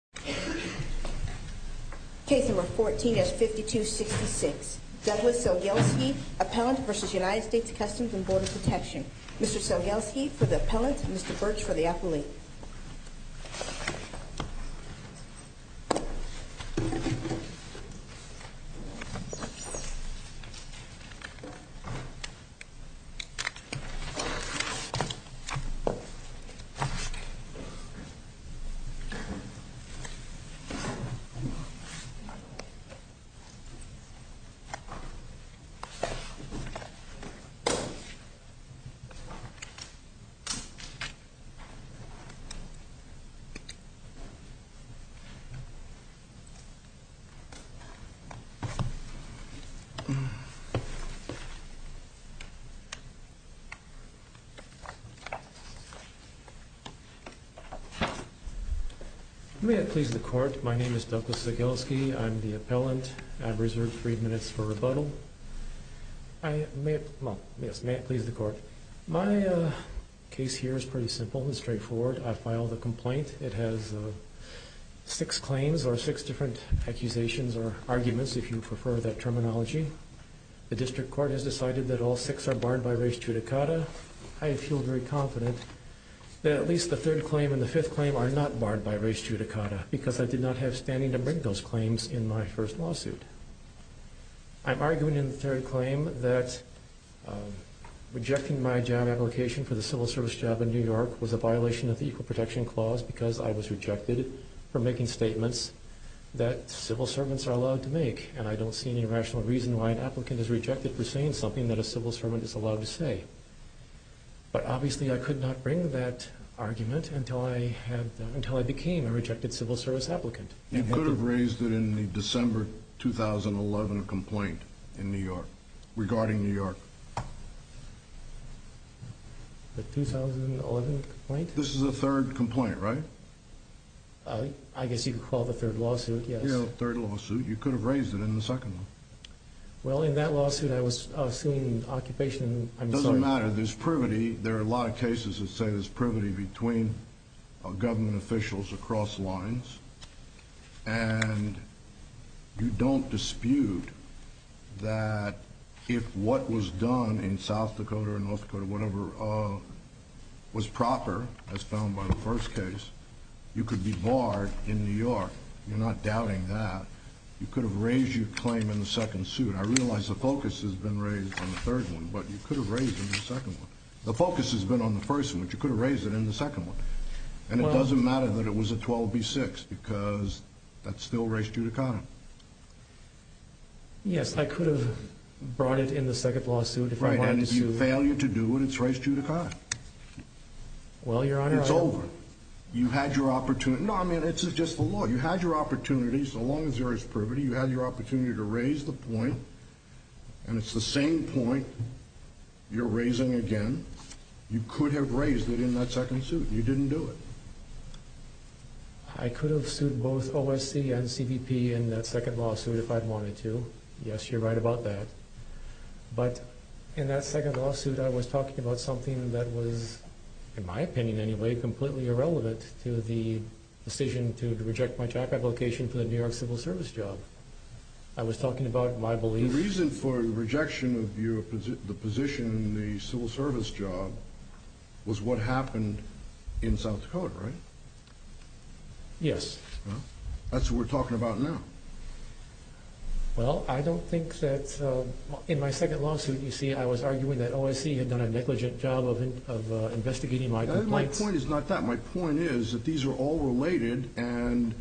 Mr. Sczygelski for the appellant, Mr. Birch for the appellate. Mr. Sczygelski for the appellant. May it please the court. My name is Douglas Sczygelski. I'm the appellant. I have reserved three minutes for rebuttal. May it please the court. My case here is pretty simple and straightforward. I filed a complaint. It has six claims or six different accusations or arguments if you prefer that terminology. The district court has decided that all six are barred by res judicata. I feel very confident that at least the third claim and the fifth claim are not barred by res judicata because I did not have standing to bring those claims in my first lawsuit. I'm arguing in the third claim that rejecting my job application for the civil service job in New York was a violation of the Equal Protection Clause because I was rejected for making statements that civil servants are allowed to make. And I don't see any rational reason why an applicant is rejected for saying something that a civil servant is allowed to say. But obviously I could not bring that argument until I became a rejected civil service applicant. You could have raised it in the December 2011 complaint in New York regarding New York. The 2011 complaint? This is the third complaint, right? I guess you could call it the third lawsuit, yes. Yeah, the third lawsuit. You could have raised it in the second one. Well, in that lawsuit I was suing occupation. It doesn't matter. There's privity. There are a lot of cases that say there's privity between government officials across lines. And you don't dispute that if what was done in South Dakota or North Dakota, whatever, was proper, as found by the first case, you could be barred in New York. You're not doubting that. You could have raised your claim in the second suit. I realize the focus has been raised on the third one, but you could have raised it in the second one. The focus has been on the first one, but you could have raised it in the second one. And it doesn't matter that it was a 12B6 because that's still race judicata. Yes, I could have brought it in the second lawsuit if I wanted to sue. Right, and if you fail you to do it, it's race judicata. Well, Your Honor, I... It's over. You had your opportunity. No, I mean, it's just the law. You had your opportunity, so long as there is privity. You had your opportunity to raise the point, and it's the same point you're raising again. You could have raised it in that second suit. You didn't do it. I could have sued both OSC and CBP in that second lawsuit if I'd wanted to. Yes, you're right about that. But in that second lawsuit I was talking about something that was, in my opinion anyway, completely irrelevant to the decision to reject my track application for the New York Civil Service job. I was talking about my belief... The reason for the rejection of the position in the Civil Service job was what happened in South Dakota, right? Yes. Well, that's what we're talking about now. Well, I don't think that... In my second lawsuit, you see, I was arguing that OSC had done a negligent job of investigating my complaints. My point is not that. My point is that these are all related, and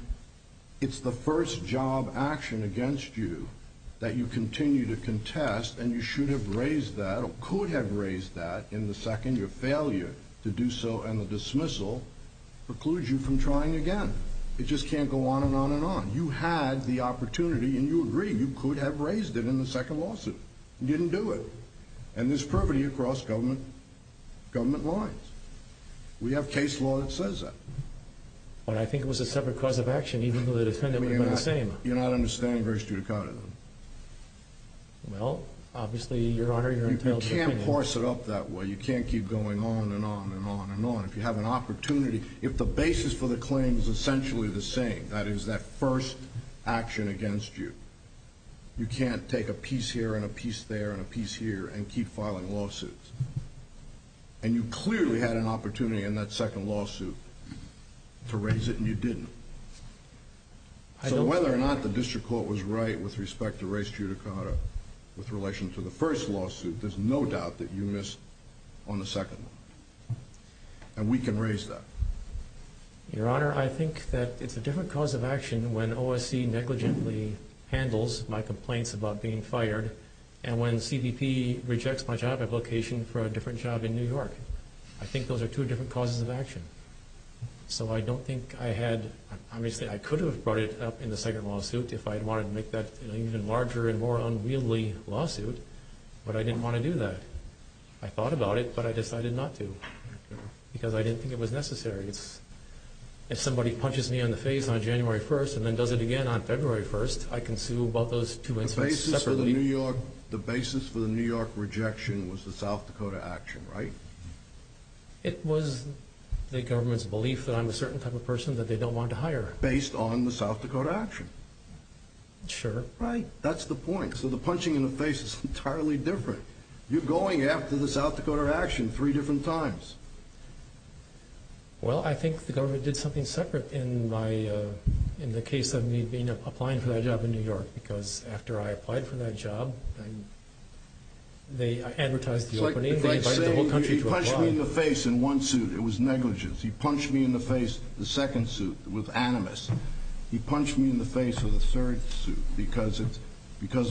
it's the first job action against you that you continue to contest, and you should have raised that or could have raised that in the second. Your failure to do so and the dismissal precludes you from trying again. It just can't go on and on and on. You had the opportunity, and you agreed you could have raised it in the second lawsuit. You didn't do it. And there's privity across government lines. We have case law that says that. Well, I think it was a separate cause of action, even though the defendant would have been the same. You're not understanding very strictly. Well, obviously, Your Honor, you're entitled to opinion. You can't horse it up that way. You can't keep going on and on and on and on. If you have an opportunity, if the basis for the claim is essentially the same, that is, that first action against you, you can't take a piece here and a piece there and a piece here and keep filing lawsuits. And you clearly had an opportunity in that second lawsuit to raise it, and you didn't. So whether or not the district court was right with respect to race judicata with relation to the first lawsuit, there's no doubt that you missed on the second one. And we can raise that. Your Honor, I think that it's a different cause of action when OSC negligently handles my complaints about being fired and when CBP rejects my job application for a different job in New York. I think those are two different causes of action. So I don't think I had—obviously, I could have brought it up in the second lawsuit if I had wanted to make that an even larger and more unwieldy lawsuit, but I didn't want to do that. I thought about it, but I decided not to because I didn't think it was necessary. If somebody punches me in the face on January 1st and then does it again on February 1st, I can sue both those two instances separately. The basis for the New York rejection was the South Dakota action, right? It was the government's belief that I'm a certain type of person that they don't want to hire. Based on the South Dakota action? Sure. Right. That's the point. So the punching in the face is entirely different. You're going after the South Dakota action three different times. Well, I think the government did something separate in the case of me applying for that job in New York because after I applied for that job, they advertised the opening. It's like they say, he punched me in the face in one suit. It was negligence. He punched me in the face in the second suit with animus. He punched me in the face in the third suit because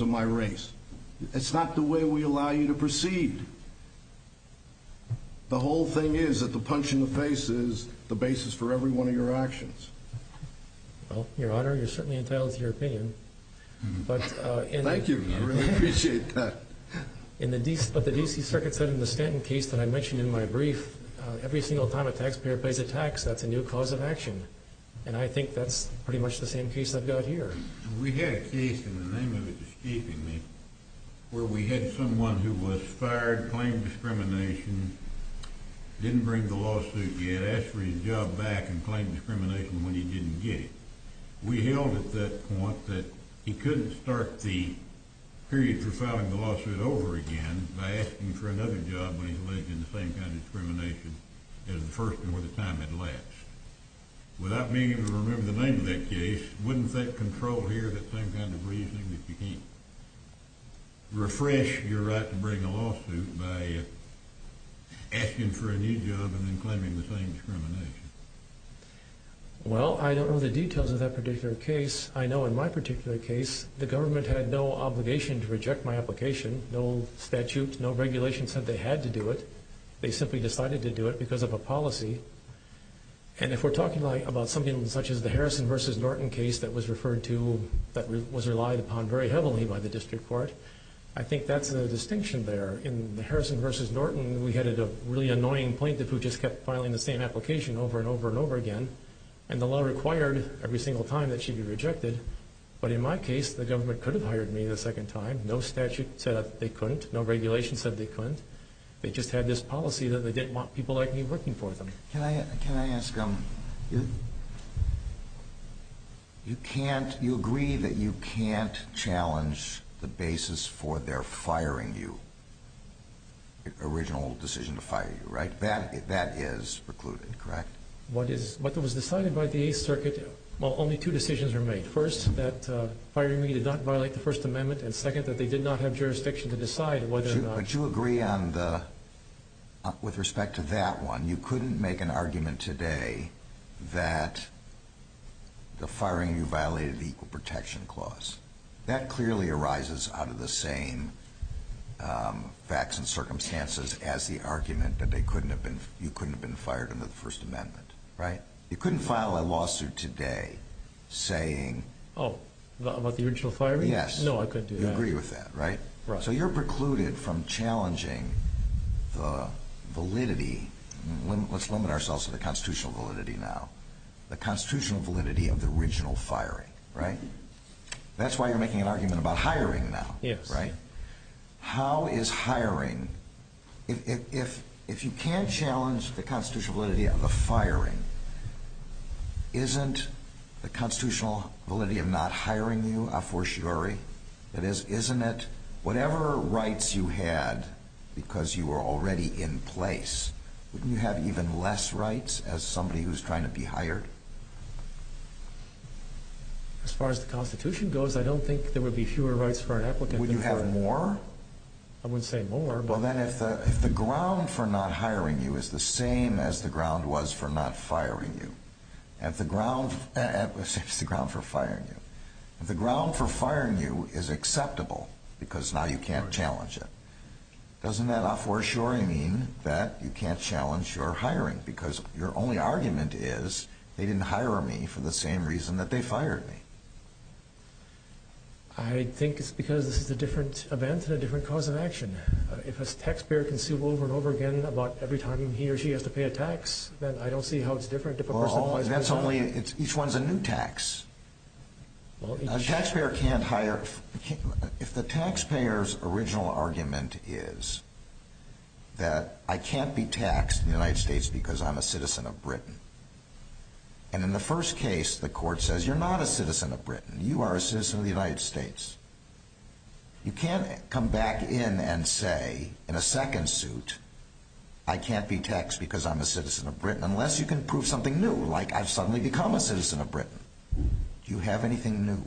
of my race. It's not the way we allow you to proceed. The whole thing is that the punch in the face is the basis for every one of your actions. Well, Your Honor, you're certainly entitled to your opinion. Thank you. I really appreciate that. In the DC Circuit's Stanton case that I mentioned in my brief, every single time a taxpayer pays a tax, that's a new cause of action. And I think that's pretty much the same case I've got here. We had a case, and the name of it is keeping me, where we had someone who was fired, claimed discrimination, didn't bring the lawsuit yet, asked for his job back and claimed discrimination when he didn't get it. We held at that point that he couldn't start the period for filing the lawsuit over again by asking for another job when he's alleged in the same kind of discrimination as the first and where the time had lapsed. Without being able to remember the name of that case, wouldn't that control here that same kind of reasoning that you can't refresh your right to bring a lawsuit by asking for a new job and then claiming the same discrimination? Well, I don't know the details of that particular case. I know in my particular case, the government had no obligation to reject my application. No statute, no regulation said they had to do it. They simply decided to do it because of a policy. And if we're talking about something such as the Harrison v. Norton case that was referred to, that was relied upon very heavily by the district court, I think that's a distinction there. In the Harrison v. Norton, we had a really annoying plaintiff who just kept filing the same application over and over and over again, and the law required every single time that she be rejected. But in my case, the government could have hired me the second time. No statute said they couldn't. No regulation said they couldn't. They just had this policy that they didn't want people like me working for them. Can I ask, you agree that you can't challenge the basis for their firing you, original decision to fire you, right? That is precluded, correct? What was decided by the Eighth Circuit, well, only two decisions were made. First, that firing me did not violate the First Amendment, and second, that they did not have jurisdiction to decide whether or not. But you agree on the, with respect to that one, you couldn't make an argument today that the firing you violated the Equal Protection Clause. That clearly arises out of the same facts and circumstances as the argument that you couldn't have been fired under the First Amendment, right? You couldn't file a lawsuit today saying. Oh, about the original firing? Yes. No, I couldn't do that. You agree with that, right? Right. So you're precluded from challenging the validity, let's limit ourselves to the constitutional validity now, the constitutional validity of the original firing, right? That's why you're making an argument about hiring now. Yes. Right? How is hiring, if you can't challenge the constitutional validity of the firing, isn't the constitutional validity of not hiring you a fortiori? That is, isn't it, whatever rights you had because you were already in place, wouldn't you have even less rights as somebody who's trying to be hired? As far as the Constitution goes, I don't think there would be fewer rights for an applicant. Would you have more? I wouldn't say more, but. Well, then, if the ground for not hiring you is the same as the ground was for not firing you, if the ground, if the ground for firing you, if the ground for firing you is acceptable because now you can't challenge it, doesn't that a fortiori mean that you can't challenge your hiring because your only argument is they didn't hire me for the same reason that they fired me? I think it's because this is a different event and a different cause of action. If a taxpayer can sue over and over again about every time he or she has to pay a tax, then I don't see how it's different if a person has to pay a tax. Because that's only, each one's a new tax. A taxpayer can't hire, if the taxpayer's original argument is that I can't be taxed in the United States because I'm a citizen of Britain, and in the first case the court says you're not a citizen of Britain, you are a citizen of the United States, you can't come back in and say in a second suit I can't be taxed because I'm a citizen of Britain unless you can prove something new, like I've suddenly become a citizen of Britain. Do you have anything new?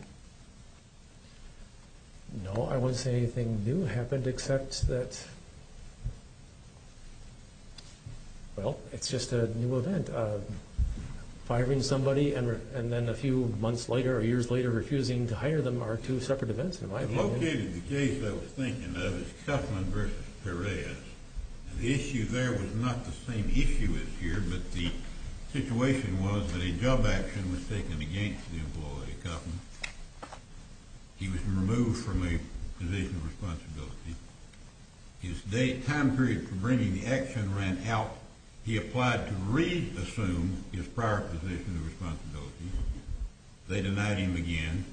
No, I wouldn't say anything new happened except that, well, it's just a new event. Firing somebody and then a few months later or years later refusing to hire them are two separate events in my opinion. Locating the case I was thinking of is Kuffman v. Perez. The issue there was not the same issue as here, but the situation was that a job action was taken against the employee, Kuffman. He was removed from a position of responsibility. His time period for bringing the action ran out. He applied to re-assume his prior position of responsibility. They denied him again,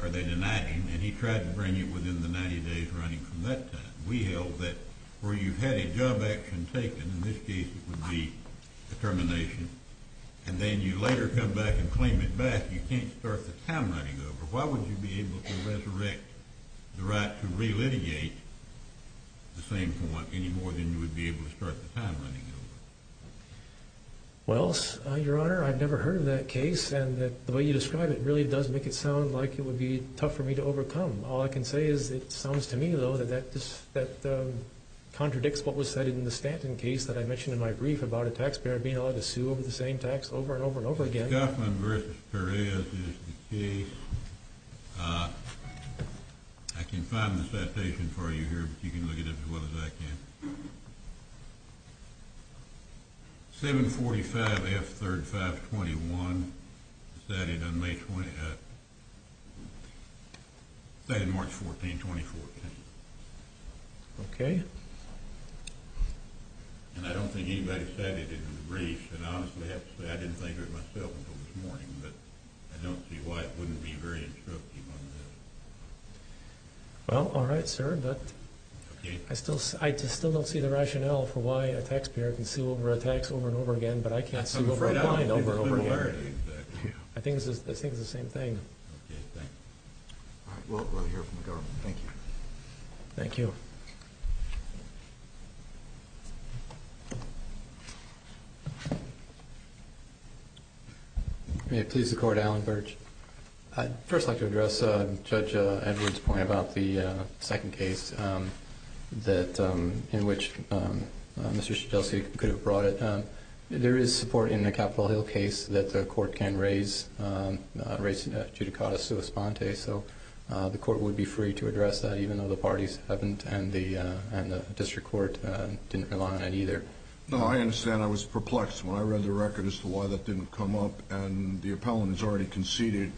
or they denied him, and he tried to bring it within the 90 days running from that time. We held that where you had a job action taken, in this case it would be a termination, and then you later come back and claim it back, you can't start the time running over. Why would you be able to resurrect the right to re-litigate at the same point any more than you would be able to start the time running over? Well, Your Honor, I've never heard of that case, and the way you describe it really does make it sound like it would be tough for me to overcome. All I can say is it sounds to me, though, that that contradicts what was said in the Stanton case that I mentioned in my brief about a taxpayer being allowed to sue over the same tax over and over and over again. Kuffman v. Perez is the case. I can find the citation for you here, but you can look it up as well as I can. 745F3521. I don't think anybody said it in the brief, and I honestly have to say I didn't think of it myself until this morning, but I don't see why it wouldn't be very instructive on this. Well, all right, sir, but I still don't see the rationale for why a taxpayer can sue over a tax over and over again, but I can't sue over and over and over again. I think it's the same thing. All right, well, we'll hear from the government. Thank you. Thank you. May it please the Court, Allen Birch. I'd first like to address Judge Edwards' point about the second case in which Mr. Shedelsky could have brought it. There is support in the Capitol Hill case that the Court can raise judicata sua sponte, so the Court would be free to address that, even though the parties haven't and the district court didn't rely on it either. No, I understand. I was perplexed when I read the record as to why that didn't come up, and the appellant has already conceded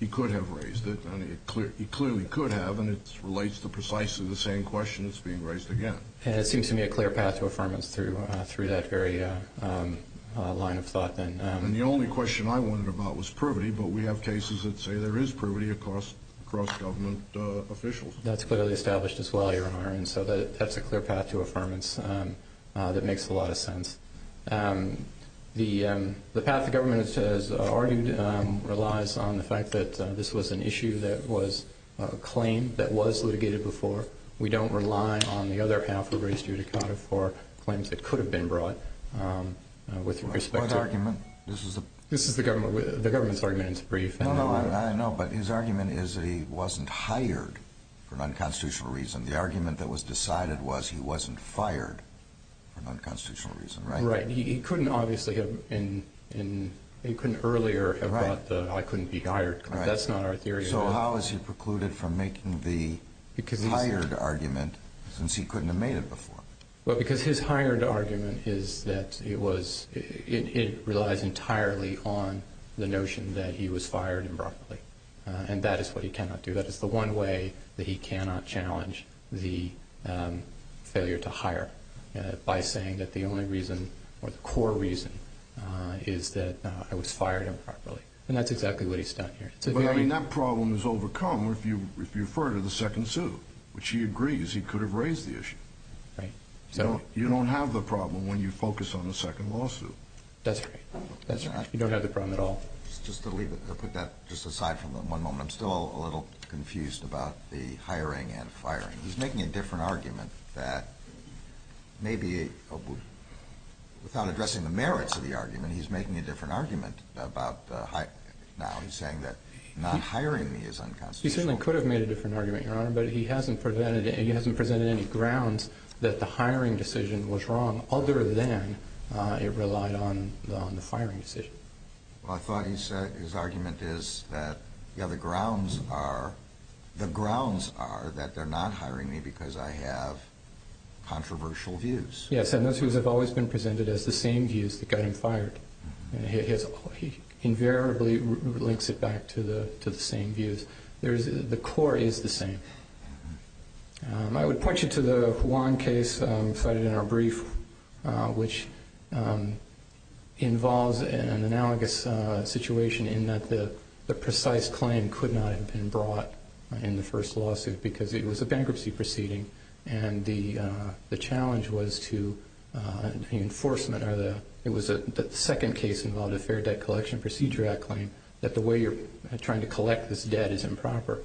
he could have raised it, and he clearly could have, and it relates to precisely the same question that's being raised again. And it seems to me a clear path to affirmance through that very line of thought then. And the only question I wondered about was privity, but we have cases that say there is privity across government officials. That's clearly established as well, Your Honor, and so that's a clear path to affirmance that makes a lot of sense. The path the government has argued relies on the fact that this was an issue that was a claim that was litigated before. We don't rely on the other half who raised judicata for claims that could have been brought with respect to – What argument? This is a – This is the government's argument. It's brief. No, no, I know, but his argument is that he wasn't hired for an unconstitutional reason. The argument that was decided was he wasn't fired for an unconstitutional reason, right? Right. He couldn't obviously have – he couldn't earlier have brought the I couldn't be hired claim. That's not our theory. So how is he precluded from making the hired argument since he couldn't have made it before? Well, because his hired argument is that it was – it relies entirely on the notion that he was fired improperly, and that is what he cannot do. That is the one way that he cannot challenge the failure to hire by saying that the only reason or the core reason is that I was fired improperly. And that's exactly what he's done here. But, I mean, that problem is overcome if you refer to the second suit, which he agrees he could have raised the issue. Right. You don't have the problem when you focus on the second lawsuit. That's right. That's right. You don't have the problem at all. Just to leave it – to put that just aside for one moment, I'm still a little confused about the hiring and firing. He's making a different argument that maybe without addressing the merits of the argument, he's making a different argument about – now he's saying that not hiring me is unconstitutional. He certainly could have made a different argument, Your Honor, but he hasn't presented any grounds that the hiring decision was wrong other than it relied on the firing decision. Well, I thought his argument is that the grounds are that they're not hiring me because I have controversial views. Yes, and those views have always been presented as the same views that got him fired. He invariably links it back to the same views. The core is the same. I would point you to the Juan case cited in our brief, which involves an analogous situation in that the precise claim could not have been brought in the first lawsuit because it was a bankruptcy proceeding and the challenge was to – the enforcement or the – it was the second case involved a fair debt collection procedure at claim that the way you're trying to collect this debt is improper.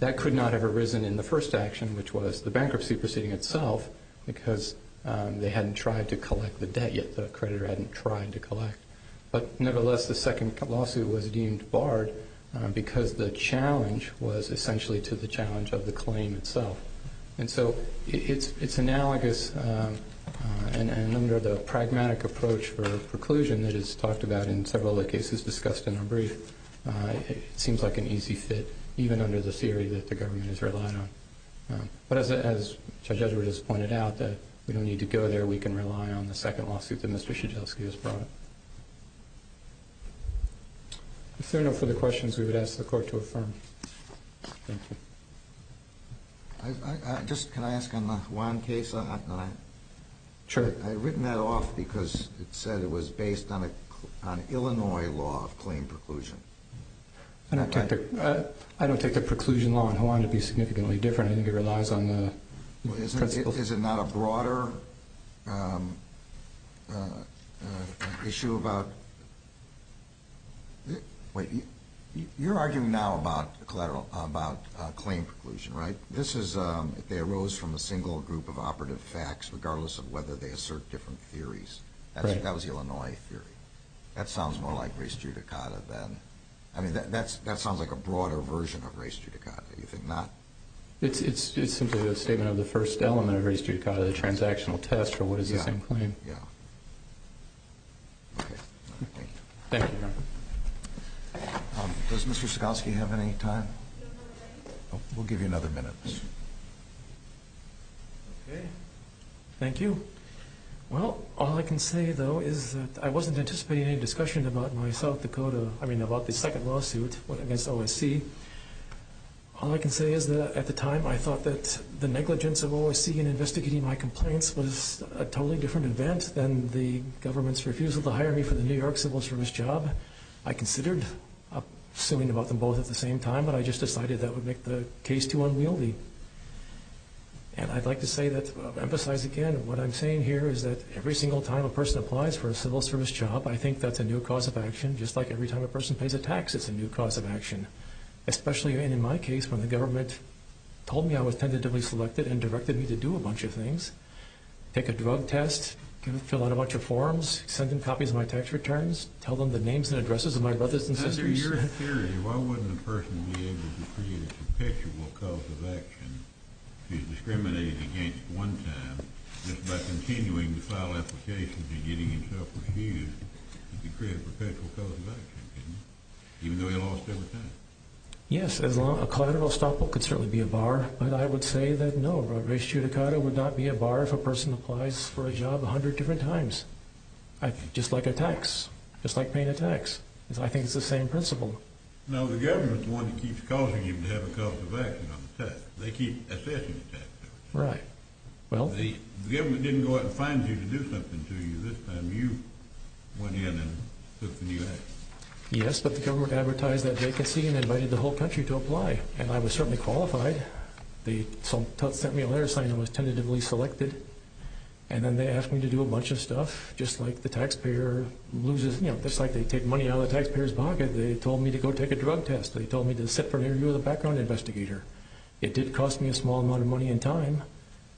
That could not have arisen in the first action, which was the bankruptcy proceeding itself, because they hadn't tried to collect the debt yet. The creditor hadn't tried to collect. But nevertheless, the second lawsuit was deemed barred because the challenge was essentially to the challenge of the claim itself. And so it's analogous, and under the pragmatic approach for preclusion that is talked about in several of the cases discussed in our brief, it seems like an easy fit, even under the theory that the government has relied on. But as Judge Edwards has pointed out, we don't need to go there. We can rely on the second lawsuit that Mr. Krzyzewski has brought. If there are no further questions, we would ask the Court to affirm. Thank you. Just can I ask on the Juan case? Sure. I've written that off because it said it was based on Illinois law of claim preclusion. I don't take the preclusion law on Juan. It would be significantly different. I think it relies on the principles. Is it not a broader issue about – wait, you're arguing now about claim preclusion, right? This is if they arose from a single group of operative facts, regardless of whether they assert different theories. That was the Illinois theory. That sounds more like race judicata then. I mean, that sounds like a broader version of race judicata. Do you think not? It's simply a statement of the first element of race judicata, the transactional test for what is the same claim. Yeah. Okay. Thank you. Thank you, Your Honor. Does Mr. Krzyzewski have any time? We'll give you another minute. Okay. Thank you. Well, all I can say, though, is that I wasn't anticipating any discussion about my South Dakota – I mean, about the second lawsuit against OSC. All I can say is that at the time I thought that the negligence of OSC in investigating my complaints was a totally different event than the government's refusal to hire me for the New York Civil Service job. I considered suing about them both at the same time, but I just decided that would make the case too unwieldy. And I'd like to say that – emphasize again what I'm saying here, is that every single time a person applies for a civil service job, I think that's a new cause of action. Just like every time a person pays a tax, it's a new cause of action, especially in my case when the government told me I was tentatively selected and directed me to do a bunch of things, take a drug test, fill out a bunch of forms, send in copies of my tax returns, Why wouldn't a person be able to create a perpetual cause of action if he's discriminated against one time just by continuing to file applications and getting himself refused? He could create a perpetual cause of action, couldn't he? Even though he lost every time. Yes, a collateral estoppel could certainly be a bar, but I would say that no, a race judicata would not be a bar if a person applies for a job a hundred different times. Just like a tax. Just like paying a tax. I think it's the same principle. No, the government's the one that keeps causing you to have a cause of action on the tax. They keep assessing the tax. Right. The government didn't go out and find you to do something to you. This time you went in and took the new action. Yes, but the government advertised that vacancy and invited the whole country to apply, and I was certainly qualified. They sent me a letter saying I was tentatively selected, and then they asked me to do a bunch of stuff, just like the taxpayer loses, just like they take money out of the taxpayer's pocket. They told me to go take a drug test. They told me to sit for an interview with a background investigator. It did cost me a small amount of money and time,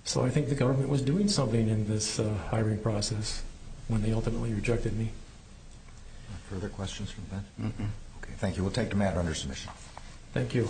so I think the government was doing something in this hiring process when they ultimately rejected me. Further questions from the panel? No. Okay, thank you. We'll take them out under submission. Thank you.